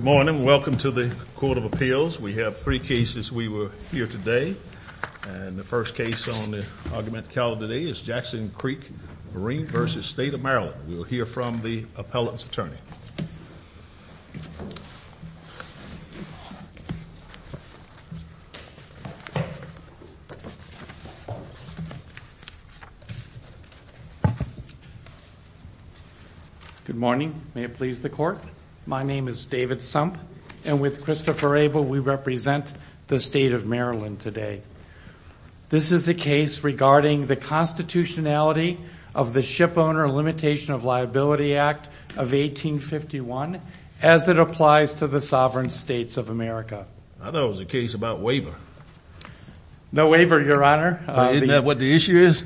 Good morning. Welcome to the Court of Appeals. We have three cases. We were here today, and the first case on the argument calendar today is Jackson Creek Marine v. State of Maryland. We will hear from the appellant's attorney. Good morning. May it please the Court? My name is David Sump, and with Christopher Abel, we represent the State of Maryland today. This is a case regarding the constitutionality of the Shipowner Limitation of Liability Act of 1851 as it applies to the sovereign states of America. I thought it was a case about waiver. No waiver, Your Honor. Isn't that what the issue is?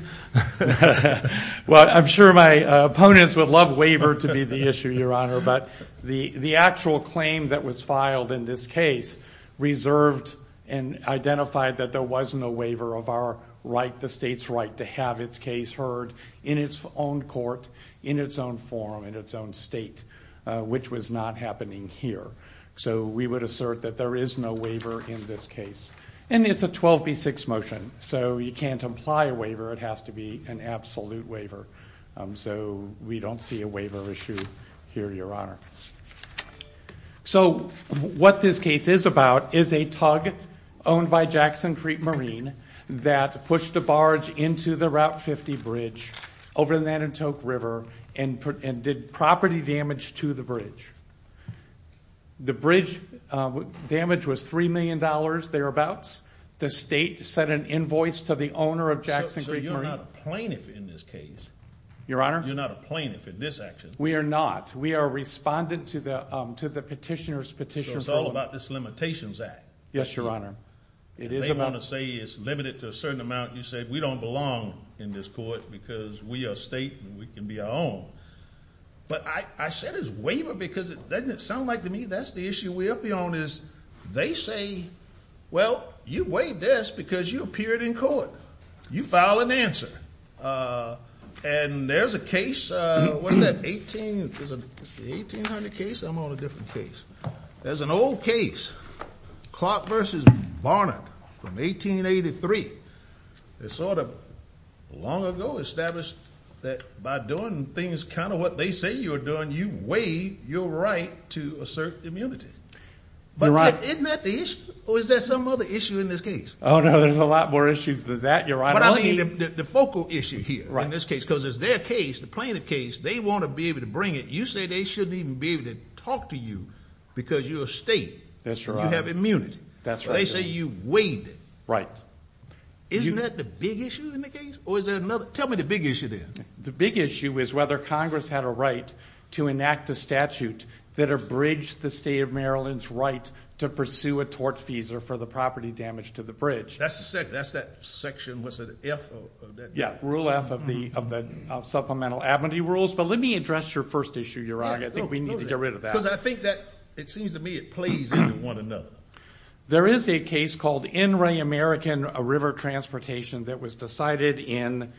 Well, I'm sure my opponents would love waiver to be the issue, Your Honor, but the actual claim that was filed in this case reserved and identified that there was no waiver of our right, the state's right, to have its case heard in its own court, in its own forum, in its own state, which was not happening here. So we would assert that there is no waiver in this case. And it's a 12B6 motion, so you can't imply a waiver. It has to be an absolute waiver. So we don't see a waiver issue here, Your Honor. So what this case is about is a tug owned by Jackson Creek Marine that pushed a barge into the Route 50 Bridge over the Nantuck River and did property damage to the bridge. The bridge damage was $3 million, thereabouts. The state sent an invoice to the owner of Jackson Creek Marine. So you're not a plaintiff in this case? Your Honor? You're not a plaintiff in this action? We are not. We are respondent to the petitioner's petition. So it's all about this Limitations Act? Yes, Your Honor. They want to say it's limited to a certain amount. You said we don't belong in this court because we are state and we can be our own. But I said it's waiver because doesn't it sound like to me that's the issue we'll be on is they say, well, you waived this because you appeared in court. You file an answer. And there's a case, what is that, 1800 case? I'm on a different case. There's an old case, Clark v. Barnard from 1883. They sort of long ago established that by doing things kind of what they say you're doing, you waive your right to assert immunity. But isn't that the issue? Or is there some other issue in this case? Oh, no, there's a lot more issues than that, Your Honor. But I mean the focal issue here in this case because it's their case, the plaintiff case, they want to be able to bring it. You say they shouldn't even be able to talk to you because you're a state. That's right. You have immunity. That's right. They say you waived it. Right. Isn't that the big issue in the case? Or is there another? Tell me the big issue then. The big issue is whether Congress had a right to enact a statute that abridged the state of Maryland's right to pursue a tort fees or for the property damage to the bridge. That's that section, what's it, F? Yeah, Rule F of the Supplemental Abidenty Rules. But let me address your first issue, Your Honor. I think we need to get rid of that. Because I think that it seems to me it plays into one another. There is a case called In Re American, a river transportation that was decided in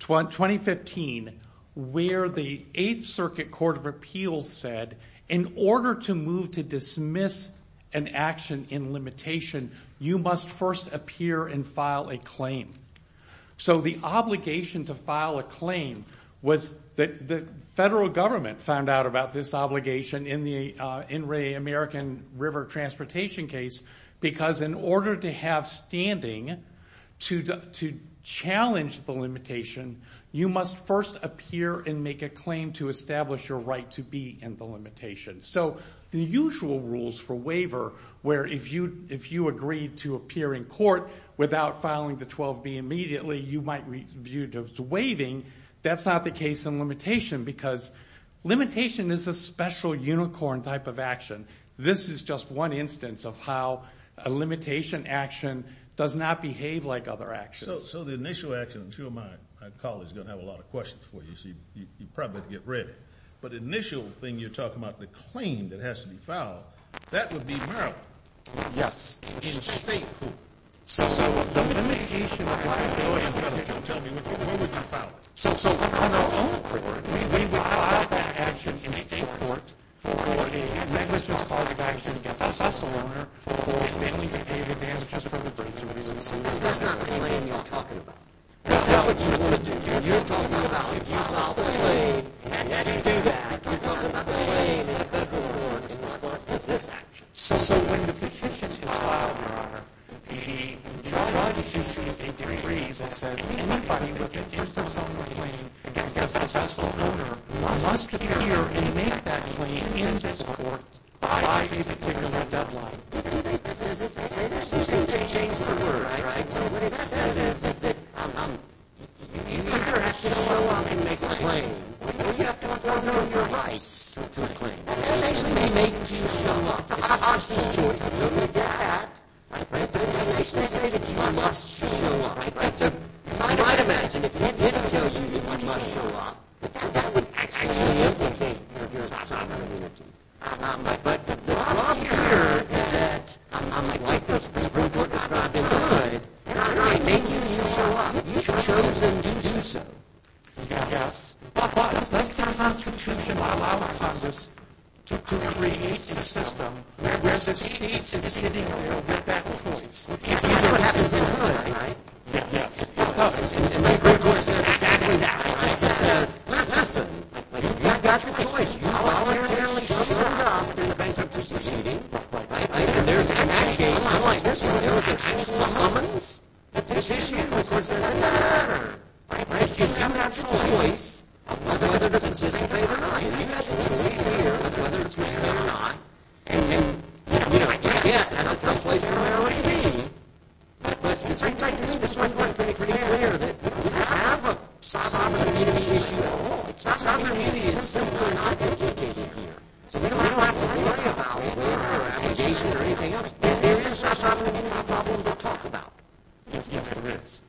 2015 where the Eighth Circuit Court of Appeals said in order to move to dismiss an action in limitation, you must first appear and file a claim. So the obligation to file a claim was that the federal government found out about this obligation in the In Re American river transportation case because in order to have standing to challenge the limitation, you must first appear and make a claim to establish your right to be in the limitation. So the usual rules for waiver where if you agreed to appear in court without filing the 12B immediately, you might be viewed as waiving. That's not the case in limitation because limitation is a special unicorn type of action. This is just one instance of how a limitation action does not behave like other actions. So the initial action, I'm sure my colleagues are going to have a lot of questions for you. So you probably have to get ready. But the initial thing you're talking about, the claim that has to be filed, that would be Maryland. Yes. In a state court. So the limitation applies to Maryland. Tell me, where would you file it? So on our own record, we would file that action in state court for a negligence cause of action against a vassal owner for failing to pay the damages for the purpose of residency. That's not the claim you're talking about. That's what you would do. And you're talking about if you file the claim, and then you do that, you're talking about the claim that the court supports this action. So when the petition is filed in our PD, the judge issues a decree that says, anybody that gives themselves a claim against a vassal owner must appear and make that claim in this court by a particular deadline. So what it says is that if you're going to have to show up and make the claim, you have to put down your rights to the claim. That doesn't actually make you show up. It's just a choice. So you get that. But it doesn't actually say that you must show up. So I'd imagine if he did tell you that you must show up, that would actually implicate your autonomy. But the law here is that, like the Supreme Court described in the hood, if they make you show up, you should choose to do so. But the Constitution would allow a process to create a system where the state is sitting there with that choice. And that's what happens in the hood, right? Yes. The Supreme Court says exactly that. It says, listen, you've got your choice. You voluntarily showed up in the case that you're succeeding, right? There's an action. Unlike this one, there's an actual summons. This issue, of course, doesn't matter, right? You've got that choice of whether to participate or not. You've got your choice here of whether to participate or not. And, you know, I get that's a tough place for an OAD. But, listen, it seems like this one was pretty clear that if you have a sovereignty issue, it's not something that needs a system that I'm advocating here. So we don't have to worry about it. We don't have to worry about litigation or anything else. This is a sovereignty problem to talk about. Yes, yes, there is.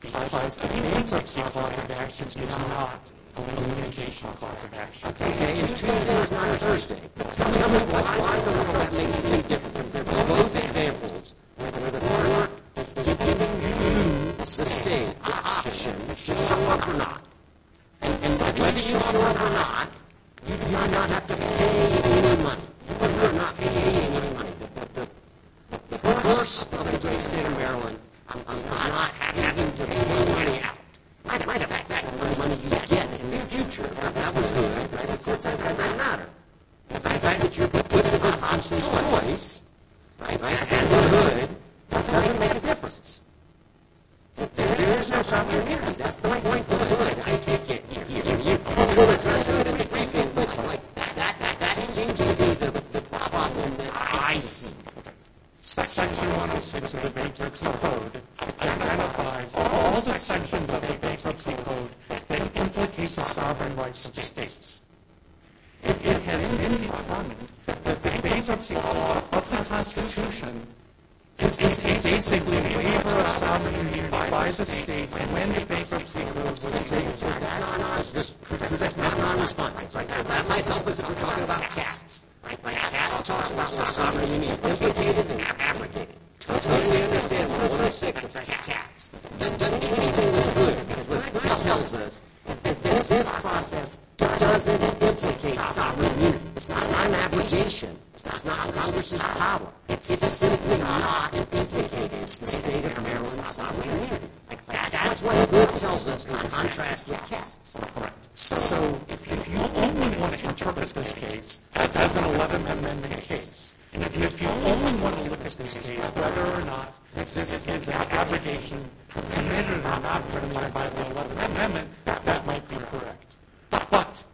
Because the names of the clauses of action is not a limitation of the clauses of action. Okay? And Tuesday is not a Thursday. But I want to know what makes you think different from those examples whether or not this is giving you, as the state, an option to show up or not. Whether you show up or not, you do not have to pay any money. You do not have to pay any money. But the course of the case in Maryland of not having to pay any money out might affect that money you get in the near future. Now, that was good, right? So it doesn't really matter. The fact that you could put this as an optional choice, right? That's not good. That doesn't make a difference. There is no sovereignty. I take it. That seems to be the problem that I see. Section 106 of the bankruptcy code identifies all sections of the bankruptcy code that implicate the sovereign rights of states. It has been determined that the bankruptcy law of the Constitution is basically a waiver of sovereignty by vice states and when the bankruptcy clause was executed, that's not a response. That might help us if we're talking about cats. Cats talk about what sovereignty means. Implicated and not abrogated. Totally understandable. 106 is like cats. It doesn't mean anything but good. It tells us that this process doesn't implicate sovereignty. It's not an abrogation. It's not a process of power. It's simply not implicated. It's the state of Maryland's sovereignty. That's what it tells us in contrast with cats. So if you only want to interpret this case as an 11th Amendment case, and if you only want to look at this case whether or not this is an abrogation committed or not committed by the 11th Amendment, that might be correct. But,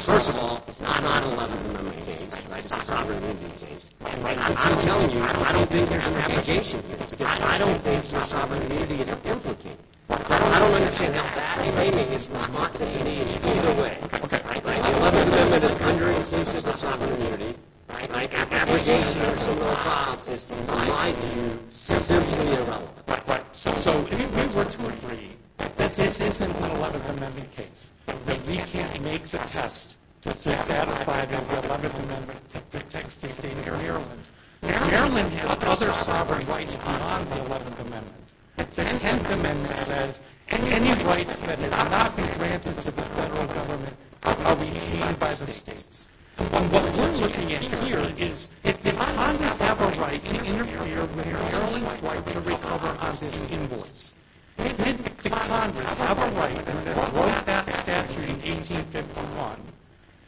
first of all, it's not an 11th Amendment case. It's a sovereignty case. And I'm telling you, I don't think there's an abrogation here because I don't think sovereignty is implicated. I don't understand how that maybe is not saying anything either way. An 11th Amendment is under its own system of sovereignty. Abrogation is its own law and system. In my view, it's simply irrelevant. So if we were to agree that this isn't an 11th Amendment case, that we can't make the test to satisfy the 11th Amendment to protect state data or Maryland, Maryland has other sovereign rights beyond the 11th Amendment. The 10th Amendment says, any rights that cannot be granted to the federal government are retained by the states. And what we're looking at here is, did the Congress have a right to interfere with Maryland's right to recover on this invoice? Did the Congress have a right to abort that statute in 1851?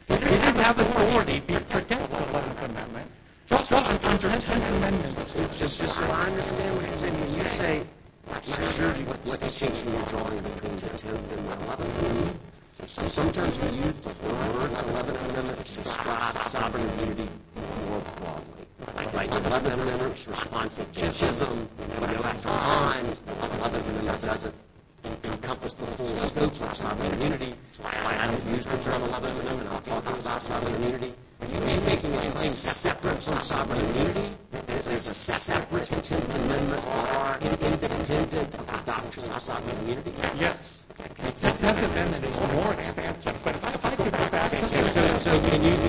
Did it have the authority to protect the 11th Amendment? Just as a counterintuitive amendment, it's just as if I understand what you're saying. You say, I'm not sure what the distinction you're drawing between the 10th and the 11th Amendment. So sometimes you use the words 11th Amendment to stress the sovereign immunity more broadly. But I think the 11th Amendment's response to chichesm, and I go back to Himes, the 11th Amendment doesn't encompass the full scope of sovereign immunity. I haven't used the term 11th Amendment when I'm talking about sovereign immunity. Are you making my claim separate from sovereign immunity? Is there a separate 10th Amendment? Or are you independent of the doctrine of sovereign immunity? Yes. The 10th Amendment is more expansive. But if I could go back to the 10th Amendment. So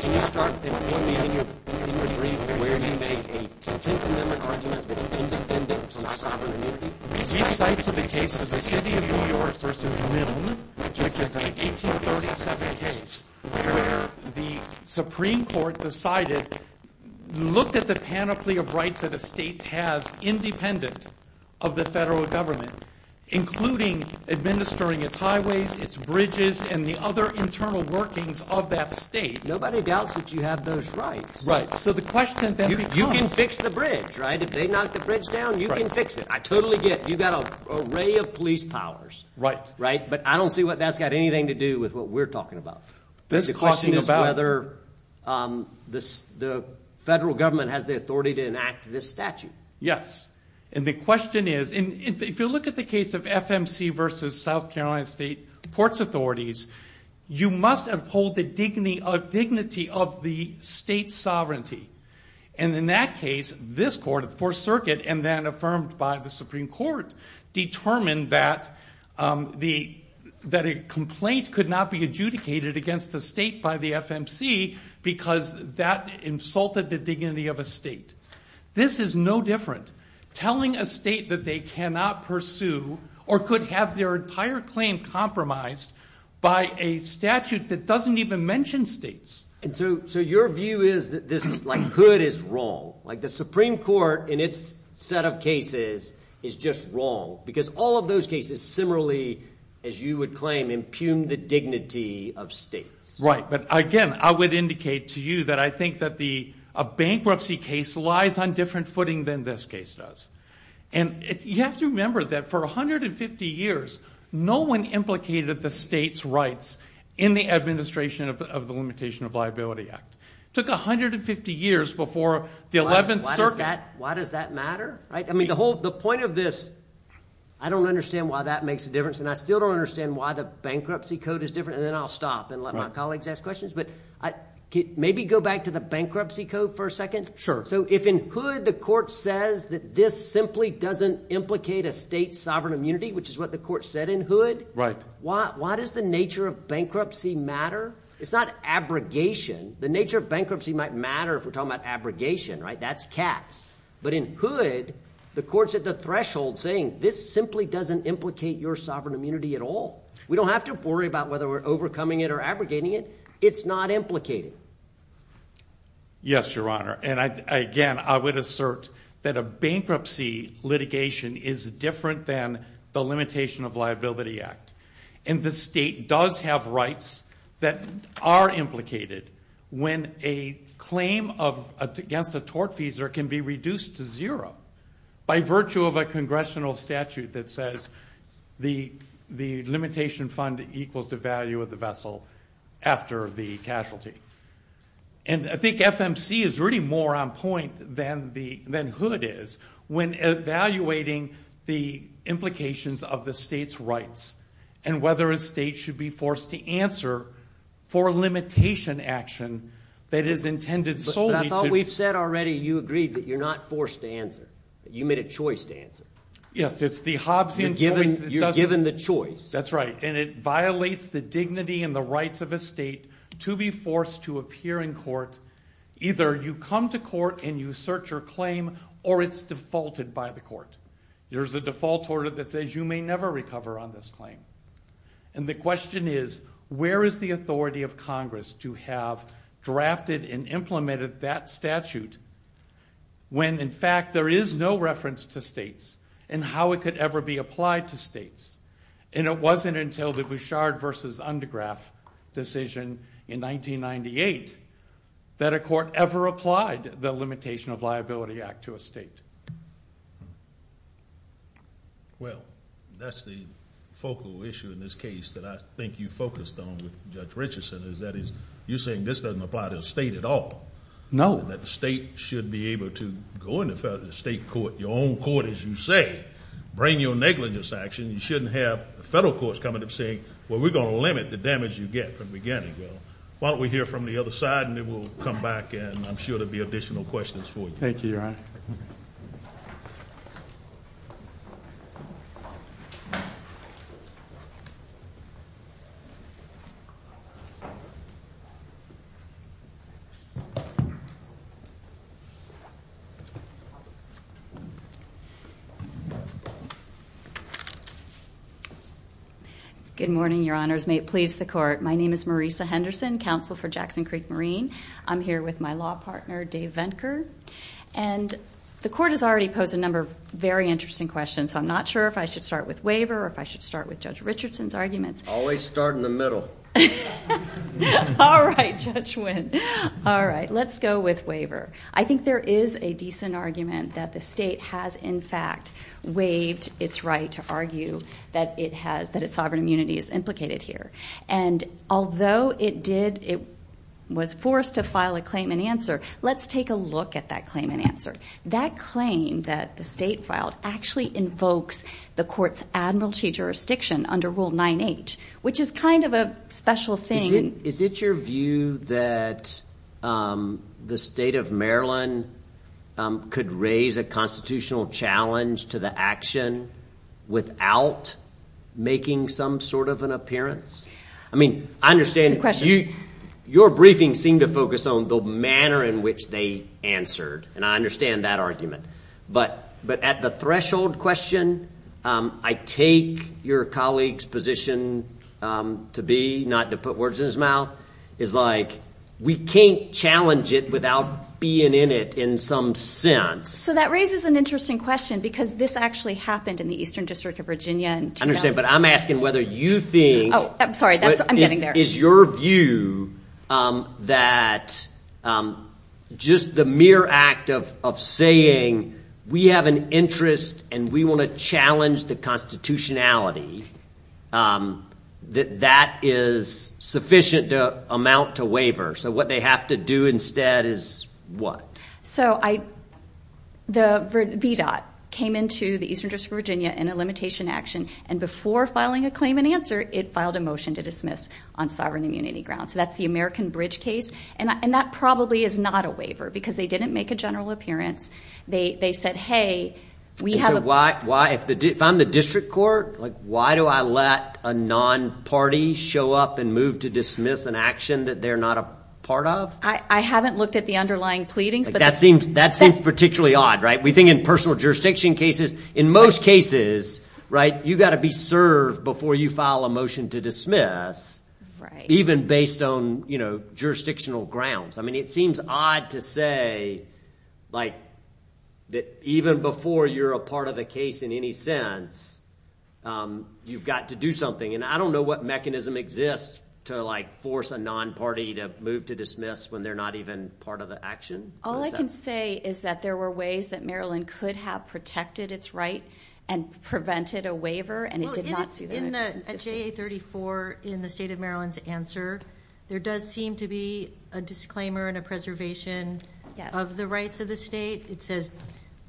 can you start at the end of your brief where you make a 10th Amendment argument that's independent from sovereign immunity? This cites the case of the City of New York v. Milne, which is an 1837 case where the Supreme Court decided, looked at the panoply of rights that a state has independent of the federal government, including administering its highways, its bridges, and the other internal workings of that state. Nobody doubts that you have those rights. Right. So the question then becomes. You can fix the bridge, right? If they knock the bridge down, you can fix it. I totally get it. You've got an array of police powers. Right. But I don't see that's got anything to do with what we're talking about. The question is whether the federal government has the authority to enact this statute. Yes. And the question is. If you look at the case of FMC v. South Carolina State Ports Authorities, you must uphold the dignity of the state sovereignty. And in that case, this court, the Fourth Circuit, and then affirmed by the Supreme Court, determined that a complaint could not be adjudicated against a state by the FMC because that insulted the dignity of a state. This is no different. Telling a state that they cannot pursue or could have their entire claim compromised by a statute that doesn't even mention states. And so your view is that this is like hood is wrong. Like the Supreme Court in its set of cases is just wrong because all of those cases similarly, as you would claim, impugn the dignity of states. Right. But, again, I would indicate to you that I think that a bankruptcy case lies on different footing than this case does. And you have to remember that for 150 years, no one implicated the state's rights in the administration of the Limitation of Liability Act. It took 150 years before the 11th Circuit. Why does that matter? I mean the whole – the point of this, I don't understand why that makes a difference, and I still don't understand why the bankruptcy code is different. And then I'll stop and let my colleagues ask questions. But maybe go back to the bankruptcy code for a second. Sure. So if in hood the court says that this simply doesn't implicate a state's sovereign immunity, which is what the court said in hood, why does the nature of bankruptcy matter? It's not abrogation. The nature of bankruptcy might matter if we're talking about abrogation, right? That's cats. But in hood, the court's at the threshold saying this simply doesn't implicate your sovereign immunity at all. We don't have to worry about whether we're overcoming it or abrogating it. It's not implicated. Yes, Your Honor. And, again, I would assert that a bankruptcy litigation is different than the Limitation of Liability Act. And the state does have rights that are implicated when a claim against a tort fees can be reduced to zero by virtue of a congressional statute that says the limitation fund equals the value of the vessel after the casualty. And I think FMC is really more on point than hood is when evaluating the implications of the state's rights and whether a state should be forced to answer for a limitation action that is intended solely to But I thought we've said already you agreed that you're not forced to answer, that you made a choice to answer. Yes, it's the Hobbesian choice that doesn't You're given the choice. That's right. And it violates the dignity and the rights of a state to be forced to appear in court. Either you come to court and you assert your claim or it's defaulted by the court. There's a default order that says you may never recover on this claim. And the question is where is the authority of Congress to have drafted and implemented that statute when, in fact, there is no reference to states and how it could ever be applied to states. And it wasn't until the Bouchard v. Undegraff decision in 1998 that a court ever applied the Limitation of Liability Act to a state. Well, that's the focal issue in this case that I think you focused on with Judge Richardson is that you're saying this doesn't apply to the state at all. No. That the state should be able to go into the state court, your own court as you say, bring your negligence action. You shouldn't have a federal court coming and saying, well, we're going to limit the damage you get from beginning. Why don't we hear from the other side and then we'll come back and I'm sure there will be additional questions for you. Thank you, Your Honor. Good morning, Your Honors. May it please the court. My name is Marisa Henderson, counsel for Jackson Creek Marine. I'm here with my law partner, Dave Venker. And the court has already posed a number of very interesting questions, so I'm not sure if I should start with waiver or if I should start with Judge Richardson's arguments. Always start in the middle. All right, Judge Wynn. All right, let's go with waiver. I think there is a decent argument that the state has, in fact, waived its right to argue that it has, that its sovereign immunity is implicated here. And although it did, it was forced to file a claim and answer, let's take a look at that claim and answer. That claim that the state filed actually invokes the court's admiralty jurisdiction under Rule 9H, which is kind of a special thing. Is it your view that the state of Maryland could raise a constitutional challenge to the action without making some sort of an appearance? I mean, I understand your briefing seemed to focus on the manner in which they answered, and I understand that argument. But at the threshold question, I take your colleague's position to be, not to put words in his mouth, is like we can't challenge it without being in it in some sense. So that raises an interesting question because this actually happened in the Eastern District of Virginia. I understand, but I'm asking whether you think. Oh, I'm sorry, I'm getting there. Is your view that just the mere act of saying we have an interest and we want to challenge the constitutionality, that that is sufficient to amount to waiver? So what they have to do instead is what? So the VDOT came into the Eastern District of Virginia in a limitation action, and before filing a claim and answer, it filed a motion to dismiss on sovereign immunity grounds. So that's the American Bridge case. And that probably is not a waiver because they didn't make a general appearance. They said, hey, we have a. So why, if I'm the district court, why do I let a non-party show up and move to dismiss an action that they're not a part of? I haven't looked at the underlying pleadings. That seems particularly odd, right? We think in personal jurisdiction cases, in most cases, right, you've got to be served before you file a motion to dismiss, even based on jurisdictional grounds. I mean, it seems odd to say, like, that even before you're a part of the case in any sense, you've got to do something. And I don't know what mechanism exists to, like, force a non-party to move to dismiss when they're not even part of the action. All I can say is that there were ways that Maryland could have protected its right and prevented a waiver, and it did not see that. At JA34, in the state of Maryland's answer, there does seem to be a disclaimer and a preservation of the rights of the state. It says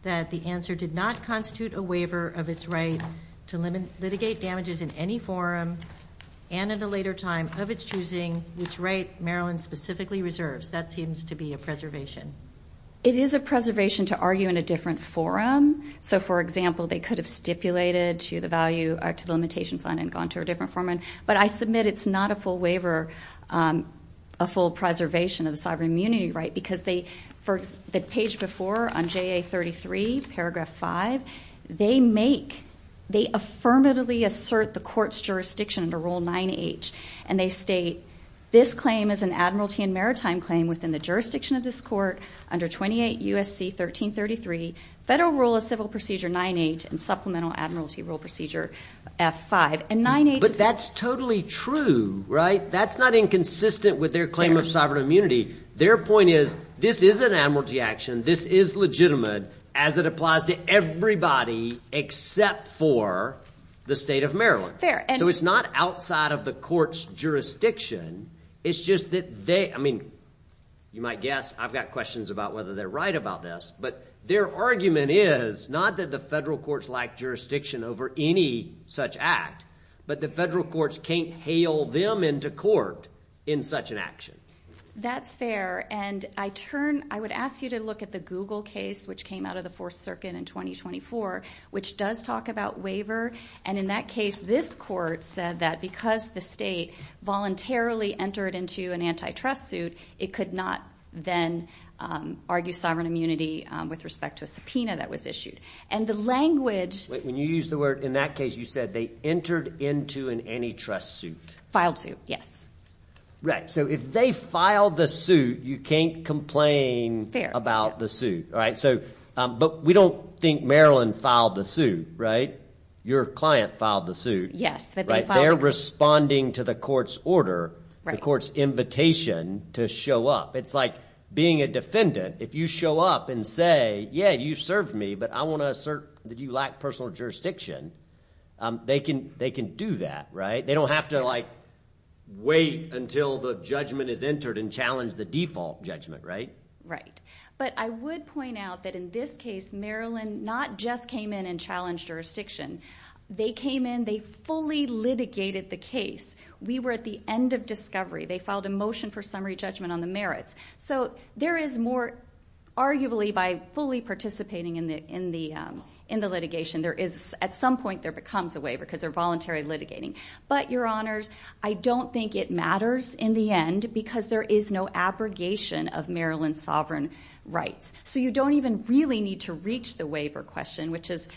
that the answer did not constitute a waiver of its right to litigate damages in any forum and at a later time of its choosing which right Maryland specifically reserves. That seems to be a preservation. It is a preservation to argue in a different forum. So, for example, they could have stipulated to the limitation fund and gone to a different forum. But I submit it's not a full waiver, a full preservation of the sovereign immunity right, because the page before on JA33, paragraph 5, they affirmatively assert the court's jurisdiction under Rule 9H, and they state this claim is an admiralty and maritime claim within the jurisdiction of this court under 28 U.S.C. 1333, Federal Rule of Civil Procedure 9H, and Supplemental Admiralty Rule Procedure F5. But that's totally true, right? That's not inconsistent with their claim of sovereign immunity. Their point is this is an admiralty action. This is legitimate as it applies to everybody except for the state of Maryland. So it's not outside of the court's jurisdiction. It's just that they – I mean, you might guess I've got questions about whether they're right about this, but their argument is not that the federal courts lack jurisdiction over any such act, but the federal courts can't hail them into court in such an action. That's fair, and I turn – I would ask you to look at the Google case, which came out of the Fourth Circuit in 2024, which does talk about waiver. And in that case, this court said that because the state voluntarily entered into an antitrust suit, it could not then argue sovereign immunity with respect to a subpoena that was issued. And the language – When you used the word in that case, you said they entered into an antitrust suit. Filed suit, yes. Right. So if they filed the suit, you can't complain about the suit. Fair. So we don't think Maryland filed the suit, right? Your client filed the suit. Yes, but they filed it. They're responding to the court's order, the court's invitation to show up. It's like being a defendant. If you show up and say, yeah, you served me, but I want to assert that you lack personal jurisdiction, they can do that, right? They don't have to, like, wait until the judgment is entered and challenge the default judgment, right? Right. But I would point out that in this case, Maryland not just came in and challenged jurisdiction. They came in, they fully litigated the case. We were at the end of discovery. They filed a motion for summary judgment on the merits. So there is more – Arguably, by fully participating in the litigation, there is – At some point, there comes a way because they're voluntary litigating. But, Your Honors, I don't think it matters in the end because there is no abrogation of Maryland's sovereign rights. So you don't even really need to reach the waiver question, which is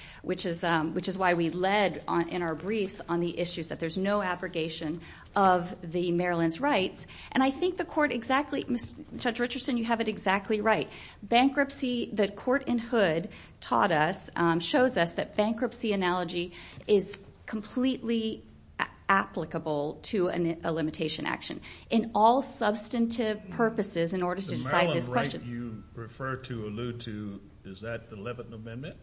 why we led in our briefs on the issues that there's no abrogation of the Maryland's rights. And I think the court exactly – Judge Richardson, you have it exactly right. Bankruptcy, the court in Hood taught us, shows us that bankruptcy analogy is completely applicable to a limitation action in all substantive purposes in order to decide this question. The Maryland right you refer to, allude to, is that the 11th Amendment?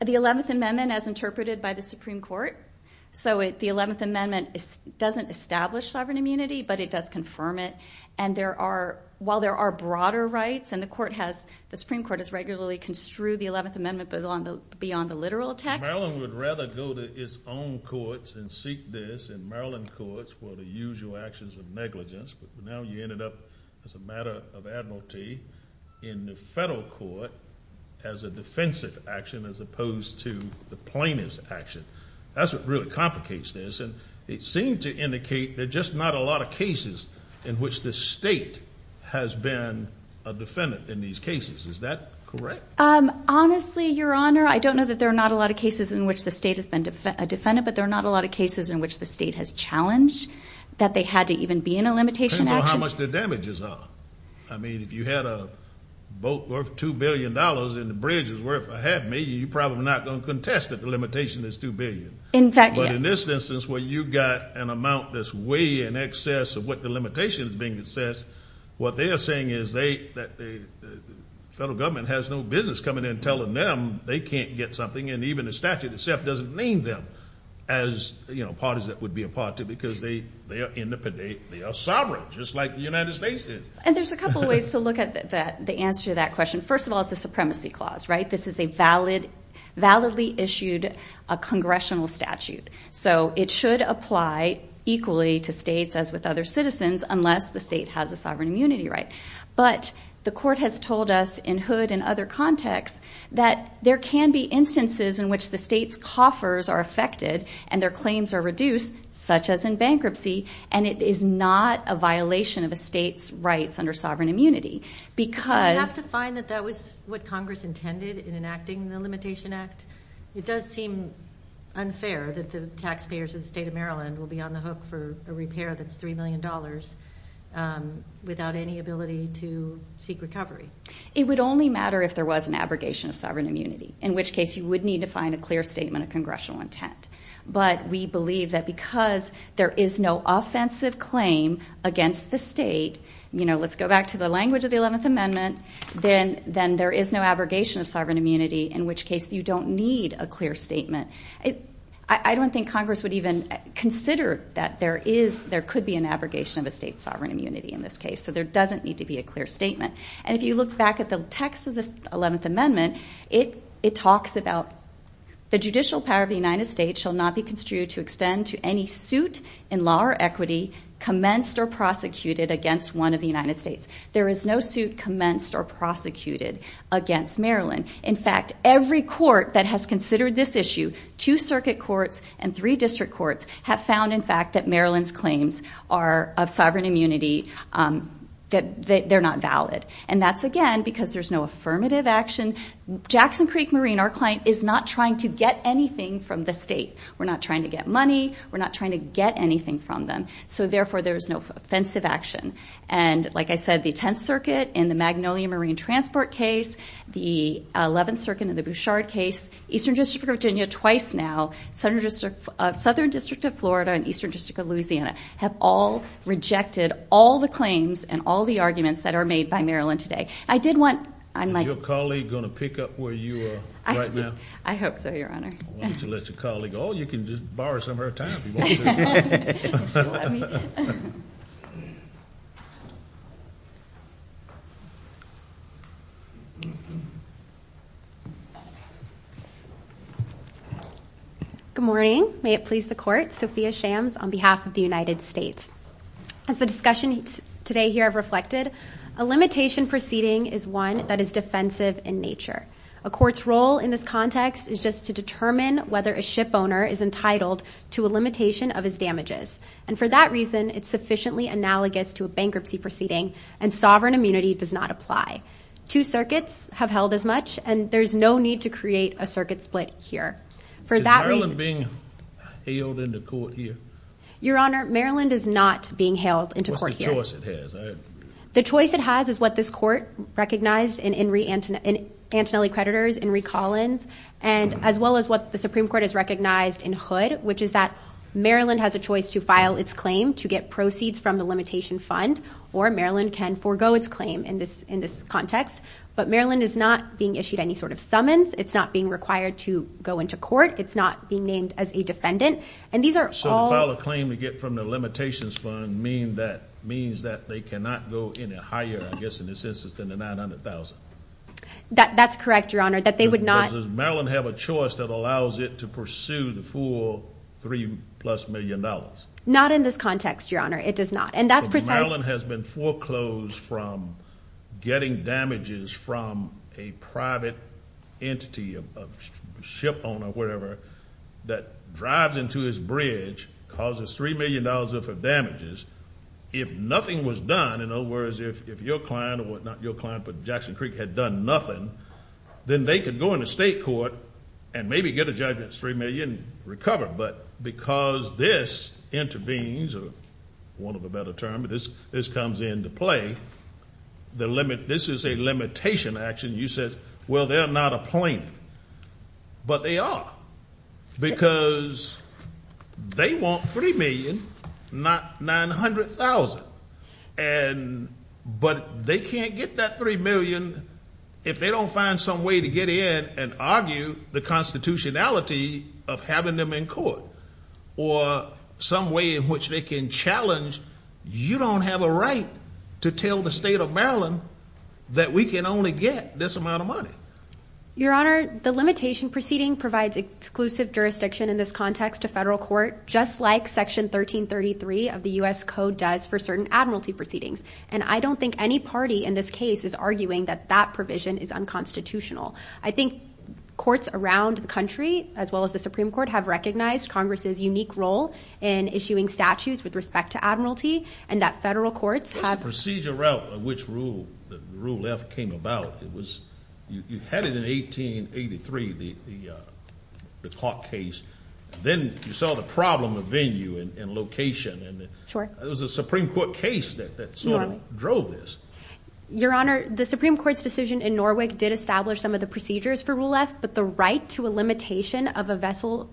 The 11th Amendment as interpreted by the Supreme Court. So the 11th Amendment doesn't establish sovereign immunity, but it does confirm it. And there are – while there are broader rights, and the court has – the Supreme Court has regularly construed the 11th Amendment beyond the literal text. Maryland would rather go to its own courts and seek this in Maryland courts for the usual actions of negligence. But now you ended up, as a matter of admiralty, in the federal court as a defensive action as opposed to the plaintiff's action. That's what really complicates this. It seemed to indicate there are just not a lot of cases in which the state has been a defendant in these cases. Is that correct? Honestly, Your Honor, I don't know that there are not a lot of cases in which the state has been a defendant. But there are not a lot of cases in which the state has challenged that they had to even be in a limitation action. Depends on how much the damages are. I mean, if you had a boat worth $2 billion and the bridge was worth a half million, you're probably not going to contest that the limitation is $2 billion. In fact, yes. But in this instance where you've got an amount that's way in excess of what the limitation is being in excess, what they are saying is that the federal government has no business coming in and telling them they can't get something. And even the statute itself doesn't name them as parties that would be a part of it because they are in the – they are sovereign, just like the United States is. And there's a couple of ways to look at the answer to that question. First of all, it's a supremacy clause, right? This is a validly issued congressional statute. So it should apply equally to states as with other citizens unless the state has a sovereign immunity right. But the court has told us in Hood and other contexts that there can be instances in which the state's coffers are affected and their claims are reduced, such as in bankruptcy, and it is not a violation of a state's rights under sovereign immunity because – in enacting the Limitation Act. It does seem unfair that the taxpayers of the state of Maryland will be on the hook for a repair that's $3 million without any ability to seek recovery. It would only matter if there was an abrogation of sovereign immunity, in which case you would need to find a clear statement of congressional intent. But we believe that because there is no offensive claim against the state – let's go back to the language of the 11th Amendment – then there is no abrogation of sovereign immunity, in which case you don't need a clear statement. I don't think Congress would even consider that there could be an abrogation of a state's sovereign immunity in this case, so there doesn't need to be a clear statement. And if you look back at the text of the 11th Amendment, it talks about the judicial power of the United States shall not be construed to extend to any suit in law or equity commenced or prosecuted against one of the United States. There is no suit commenced or prosecuted against Maryland. In fact, every court that has considered this issue – two circuit courts and three district courts – have found, in fact, that Maryland's claims of sovereign immunity – they're not valid. And that's, again, because there's no affirmative action. Jackson Creek Marine, our client, is not trying to get anything from the state. We're not trying to get money. We're not trying to get anything from them. So, therefore, there is no offensive action. And, like I said, the 10th Circuit in the Magnolia Marine Transport case, the 11th Circuit in the Bouchard case, Eastern District of Virginia twice now, Southern District of Florida, and Eastern District of Louisiana have all rejected all the claims and all the arguments that are made by Maryland today. I did want – Is your colleague going to pick up where you are right now? I hope so, Your Honor. Why don't you let your colleague – oh, you can just borrow some of her time if you want to. Good morning. May it please the Court. Sophia Shams on behalf of the United States. As the discussions today here have reflected, a limitation proceeding is one that is defensive in nature. A court's role in this context is just to determine whether a shipowner is entitled to a limitation of his damages. And for that reason, it's sufficiently analogous to a bankruptcy proceeding, and sovereign immunity does not apply. Two circuits have held as much, and there's no need to create a circuit split here. For that reason – Is Maryland being held in the court here? Your Honor, Maryland is not being held into court here. What's the choice it has? The choice it has is what this Court recognized in Antonelli Creditors, In re Collins, and as well as what the Supreme Court has recognized in Hood, which is that Maryland has a choice to file its claim to get proceeds from the limitation fund, or Maryland can forego its claim in this context. But Maryland is not being issued any sort of summons. It's not being required to go into court. It's not being named as a defendant. And these are all – So to file a claim to get from the limitations fund means that they cannot go any higher, I guess in this instance, than the $900,000? That's correct, Your Honor, that they would not – Does Maryland have a choice that allows it to pursue the full $3-plus million? Not in this context, Your Honor. It does not. And that's precisely – from getting damages from a private entity, a shipowner, whatever, that drives into his bridge, causes $3 million worth of damages. If nothing was done, in other words, if your client or not your client but Jackson Creek had done nothing, then they could go into state court and maybe get a judgment, $3 million, and recover. But because this intervenes, or want to have a better term, this comes into play, this is a limitation action. You said, well, they're not a plaintiff. But they are. Because they want $3 million, not $900,000. But they can't get that $3 million if they don't find some way to get in and argue the constitutionality of having them in court, or some way in which they can challenge you don't have a right to tell the state of Maryland that we can only get this amount of money. Your Honor, the limitation proceeding provides exclusive jurisdiction in this context to federal court, just like Section 1333 of the U.S. Code does for certain admiralty proceedings. And I don't think any party in this case is arguing that that provision is unconstitutional. I think courts around the country, as well as the Supreme Court, have recognized Congress's unique role in issuing statutes with respect to admiralty, and that federal courts have. What's the procedure route in which Rule F came about? You had it in 1883, the clock case. Then you saw the problem of venue and location. It was a Supreme Court case that sort of drove this. Your Honor, the Supreme Court's decision in Norwick did establish some of the procedures for Rule F, but the right to a limitation of a vessel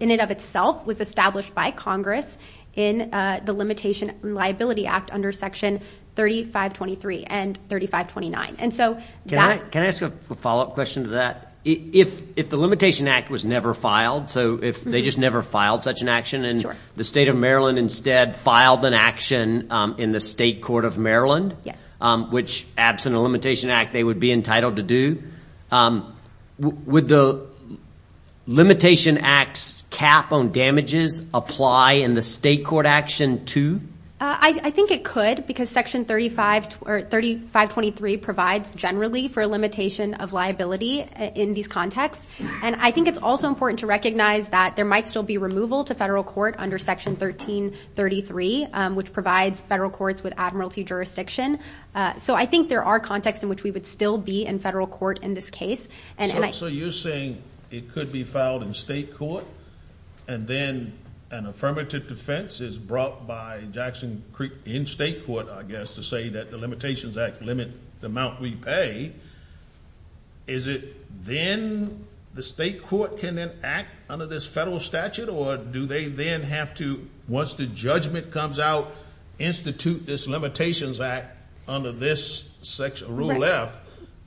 in and of itself was established by Congress in the Limitation and Liability Act under Section 3523 and 3529. Can I ask a follow-up question to that? If the Limitation Act was never filed, so if they just never filed such an action, and the state of Maryland instead filed an action in the state court of Maryland, which absent a Limitation Act they would be entitled to do, would the Limitation Act's cap on damages apply in the state court action too? I think it could because Section 3523 provides generally for a limitation of liability in these contexts. I think it's also important to recognize that there might still be removal to federal court under Section 1333, which provides federal courts with admiralty jurisdiction. I think there are contexts in which we would still be in federal court in this case. So you're saying it could be filed in state court, and then an affirmative defense is brought by Jackson Creek in state court, I guess, to say that the Limitation Act limits the amount we pay. Is it then the state court can then act under this federal statute, or do they then have to, once the judgment comes out, institute this Limitations Act under this Rule F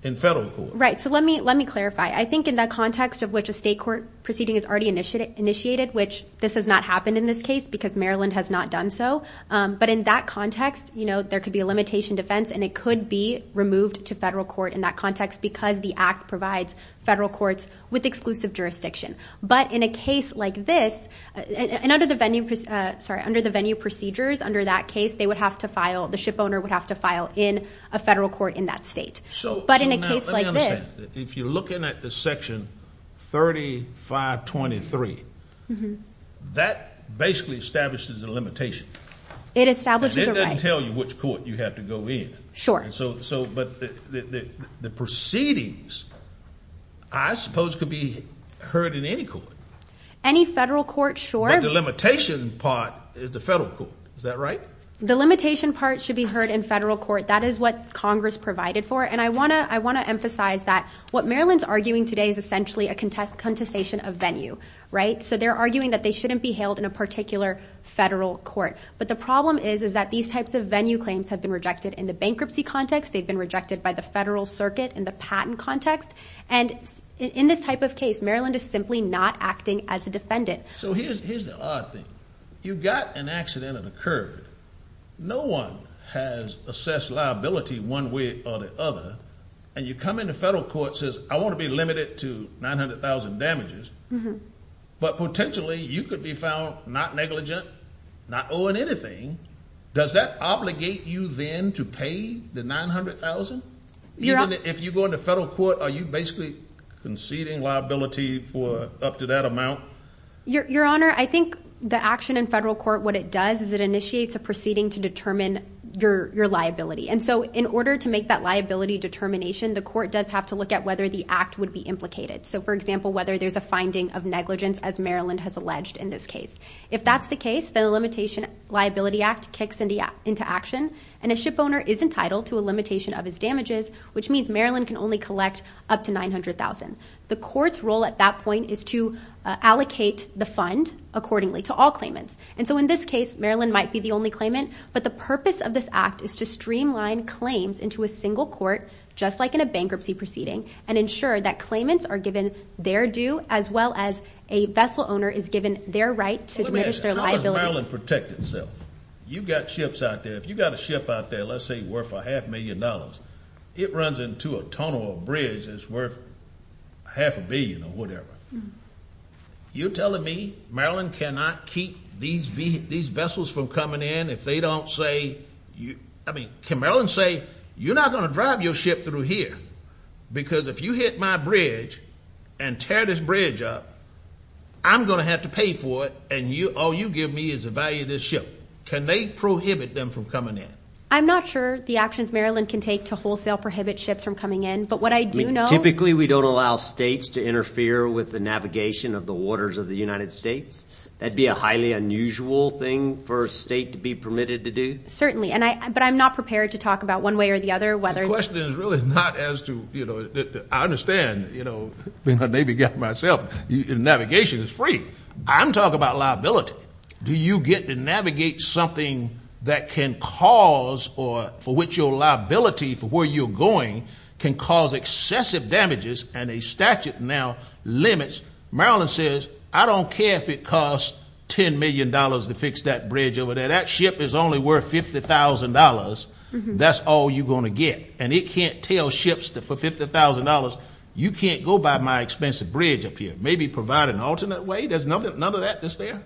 in federal court? Right, so let me clarify. I think in that context of which a state court proceeding is already initiated, which this has not happened in this case because Maryland has not done so, but in that context there could be a limitation defense, and it could be removed to federal court in that context because the Act provides federal courts with exclusive jurisdiction. But in a case like this, and under the venue procedures under that case, they would have to file, the shipowner would have to file in a federal court in that state. But in a case like this. If you're looking at the Section 3523, that basically establishes a limitation. It establishes a right. Sure. But the proceedings, I suppose, could be heard in any court. Any federal court, sure. But the limitation part is the federal court, is that right? The limitation part should be heard in federal court. That is what Congress provided for. And I want to emphasize that what Maryland's arguing today is essentially a contestation of venue, right? So they're arguing that they shouldn't be held in a particular federal court. But the problem is, is that these types of venue claims have been rejected in the bankruptcy context. They've been rejected by the federal circuit in the patent context. And in this type of case, Maryland is simply not acting as a defendant. So here's the odd thing. You've got an accident that occurred. No one has assessed liability one way or the other. And you come into federal court, says, I want to be limited to 900,000 damages. But potentially you could be found not negligent, not owing anything. Does that obligate you then to pay the 900,000? Even if you go into federal court, are you basically conceding liability for up to that amount? Your Honor, I think the action in federal court, what it does is it initiates a proceeding to determine your liability. And so in order to make that liability determination, the court does have to look at whether the act would be implicated. So, for example, whether there's a finding of negligence, as Maryland has alleged in this case. If that's the case, then the Limitation Liability Act kicks into action. And a shipowner is entitled to a limitation of his damages, which means Maryland can only collect up to 900,000. The court's role at that point is to allocate the fund accordingly to all claimants. And so in this case, Maryland might be the only claimant. But the purpose of this act is to streamline claims into a single court, just like in a bankruptcy proceeding, and ensure that claimants are given their due, as well as a vessel owner is given their right to diminish their liability. How does Maryland protect itself? You've got ships out there. If you've got a ship out there, let's say worth a half million dollars, it runs into a tunnel or a bridge that's worth half a billion or whatever. You're telling me Maryland cannot keep these vessels from coming in if they don't say, I mean, can Maryland say, you're not going to drive your ship through here because if you hit my bridge and tear this bridge up, I'm going to have to pay for it and all you give me is the value of this ship. Can they prohibit them from coming in? I'm not sure the actions Maryland can take to wholesale prohibit ships from coming in. But what I do know. Typically, we don't allow states to interfere with the navigation of the waters of the United States. That'd be a highly unusual thing for a state to be permitted to do. Certainly. But I'm not prepared to talk about one way or the other. The question is really not as to, you know, I understand, you know, being a Navy guy myself, navigation is free. I'm talking about liability. Do you get to navigate something that can cause or for which your liability for where you're going can cause excessive damages and a statute now limits. Maryland says I don't care if it costs $10 million to fix that bridge over there. If that ship is only worth $50,000, that's all you're going to get. And it can't tell ships that for $50,000, you can't go buy my expensive bridge up here. Maybe provide an alternate way. There's none of that that's there.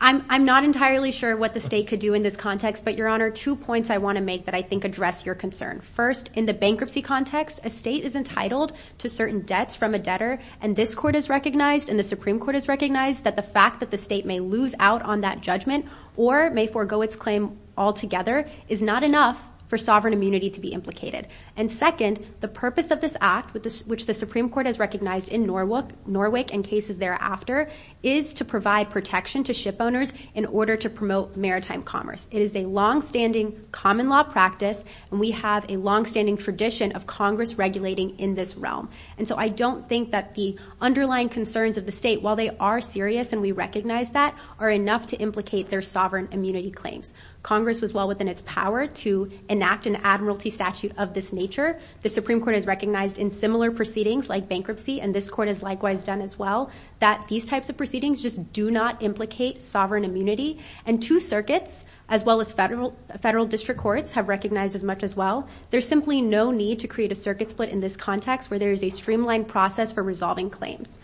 I'm not entirely sure what the state could do in this context. But, Your Honor, two points I want to make that I think address your concern. First, in the bankruptcy context, a state is entitled to certain debts from a debtor. And this court has recognized and the Supreme Court has recognized that the fact that the state may lose out on that judgment or may forego its claim altogether is not enough for sovereign immunity to be implicated. And, second, the purpose of this act, which the Supreme Court has recognized in Norwick and cases thereafter, is to provide protection to ship owners in order to promote maritime commerce. It is a longstanding common law practice, and we have a longstanding tradition of Congress regulating in this realm. And so I don't think that the underlying concerns of the state, while they are serious and we recognize that, are enough to implicate their sovereign immunity claims. Congress was well within its power to enact an admiralty statute of this nature. The Supreme Court has recognized in similar proceedings like bankruptcy, and this court has likewise done as well, that these types of proceedings just do not implicate sovereign immunity. And two circuits, as well as federal district courts, have recognized as much as well. There's simply no need to create a circuit split in this context where there is a streamlined process for resolving claims.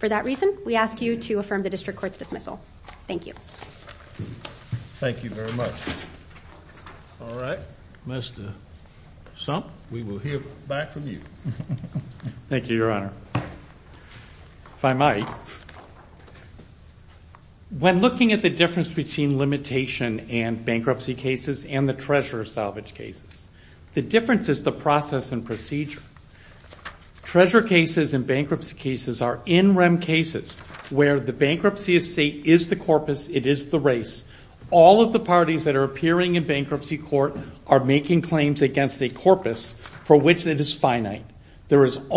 For that reason, we ask you to affirm the district court's dismissal. Thank you. Thank you very much. All right. Mr. Sump, we will hear back from you. Thank you, Your Honor. If I might. When looking at the difference between limitation and bankruptcy cases and the treasurer salvage cases, the difference is the process and procedure. Treasurer cases and bankruptcy cases are in rem cases where the bankruptcy estate is the corpus, it is the race. All of the parties that are appearing in bankruptcy court are making claims against a corpus for which it is finite. Isn't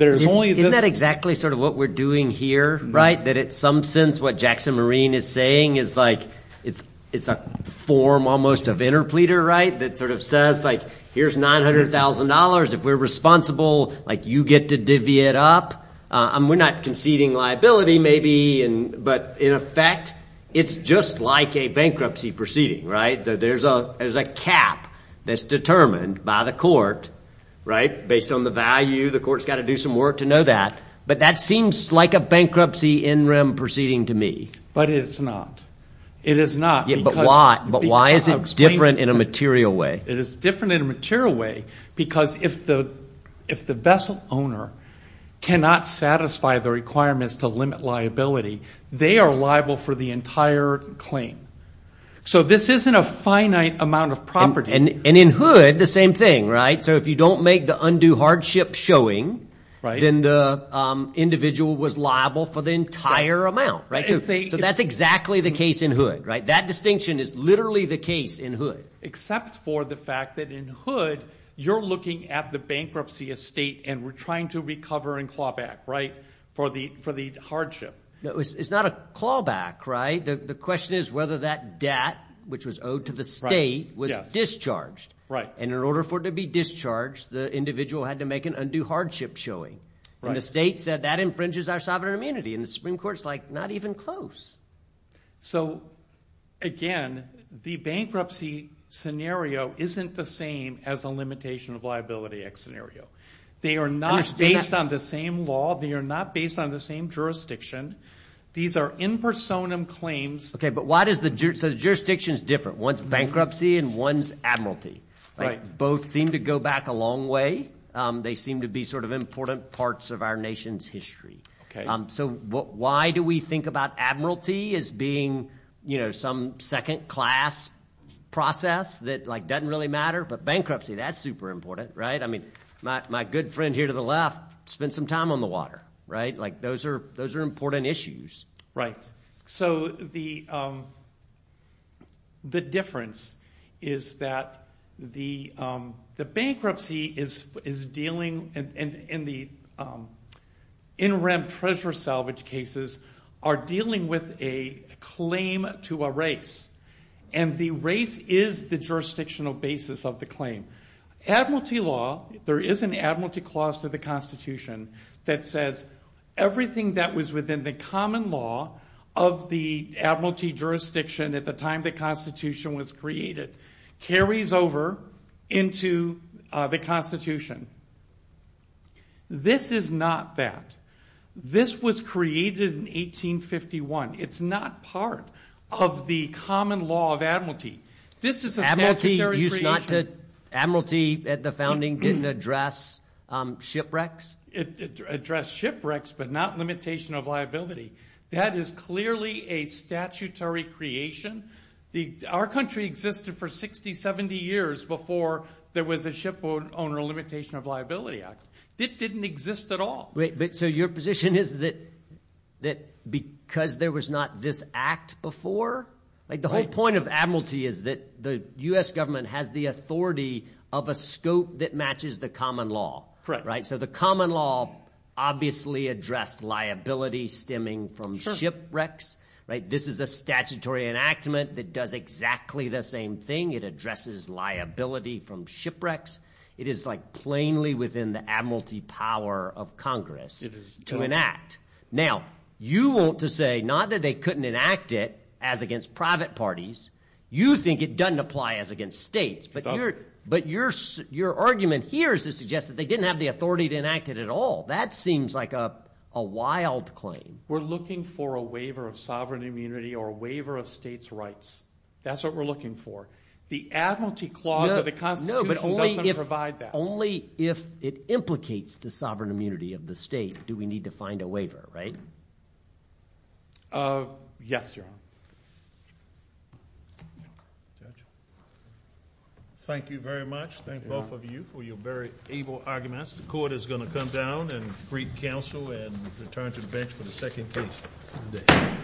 that exactly sort of what we're doing here, right, that in some sense what Jackson Marine is saying is like it's a form almost of interpleader, right, that sort of says, like, here's $900,000. If we're responsible, like, you get to divvy it up. We're not conceding liability, maybe, but in effect, it's just like a bankruptcy proceeding, right? So there's a cap that's determined by the court, right, based on the value. The court's got to do some work to know that. But that seems like a bankruptcy in rem proceeding to me. But it's not. It is not. But why is it different in a material way? It is different in a material way because if the vessel owner cannot satisfy the requirements to limit liability, they are liable for the entire claim. So this isn't a finite amount of property. And in Hood, the same thing, right? So if you don't make the undue hardship showing, then the individual was liable for the entire amount, right? So that's exactly the case in Hood, right? That distinction is literally the case in Hood. Except for the fact that in Hood, you're looking at the bankruptcy estate and we're trying to recover and claw back, right, for the hardship. It's not a claw back, right? The question is whether that debt, which was owed to the state, was discharged. And in order for it to be discharged, the individual had to make an undue hardship showing. And the state said that infringes our sovereign immunity. And the Supreme Court is, like, not even close. So, again, the bankruptcy scenario isn't the same as a limitation of liability act scenario. They are not based on the same law. They are not based on the same jurisdiction. These are in personam claims. Okay, but why does the jurisdiction is different? One's bankruptcy and one's admiralty. Right. Both seem to go back a long way. They seem to be sort of important parts of our nation's history. Okay. So why do we think about admiralty as being, you know, some second class process that, like, doesn't really matter? But bankruptcy, that's super important, right? I mean, my good friend here to the left spent some time on the water, right? Like, those are important issues. Right. So the difference is that the bankruptcy is dealing in the interim treasure salvage cases are dealing with a claim to a race. And the race is the jurisdictional basis of the claim. Admiralty law, there is an admiralty clause to the Constitution that says everything that was within the common law of the admiralty jurisdiction at the time the Constitution was created carries over into the Constitution. This is not that. This was created in 1851. It's not part of the common law of admiralty. This is a statutory creation. Admiralty at the founding didn't address shipwrecks? It addressed shipwrecks but not limitation of liability. That is clearly a statutory creation. Our country existed for 60, 70 years before there was a shipowner limitation of liability act. It didn't exist at all. So your position is that because there was not this act before? The whole point of admiralty is that the U.S. government has the authority of a scope that matches the common law. Correct. So the common law obviously addressed liability stemming from shipwrecks. This is a statutory enactment that does exactly the same thing. It addresses liability from shipwrecks. It is like plainly within the admiralty power of Congress to enact. Now, you want to say not that they couldn't enact it as against private parties. You think it doesn't apply as against states. But your argument here is to suggest that they didn't have the authority to enact it at all. That seems like a wild claim. We're looking for a waiver of sovereign immunity or a waiver of states' rights. That's what we're looking for. The Admiralty Clause of the Constitution doesn't provide that. Only if it implicates the sovereign immunity of the state do we need to find a waiver, right? Yes, Your Honor. Thank you very much. Thank both of you for your very able arguments. The court is going to come down and greet counsel and return to the bench for the second case of the day.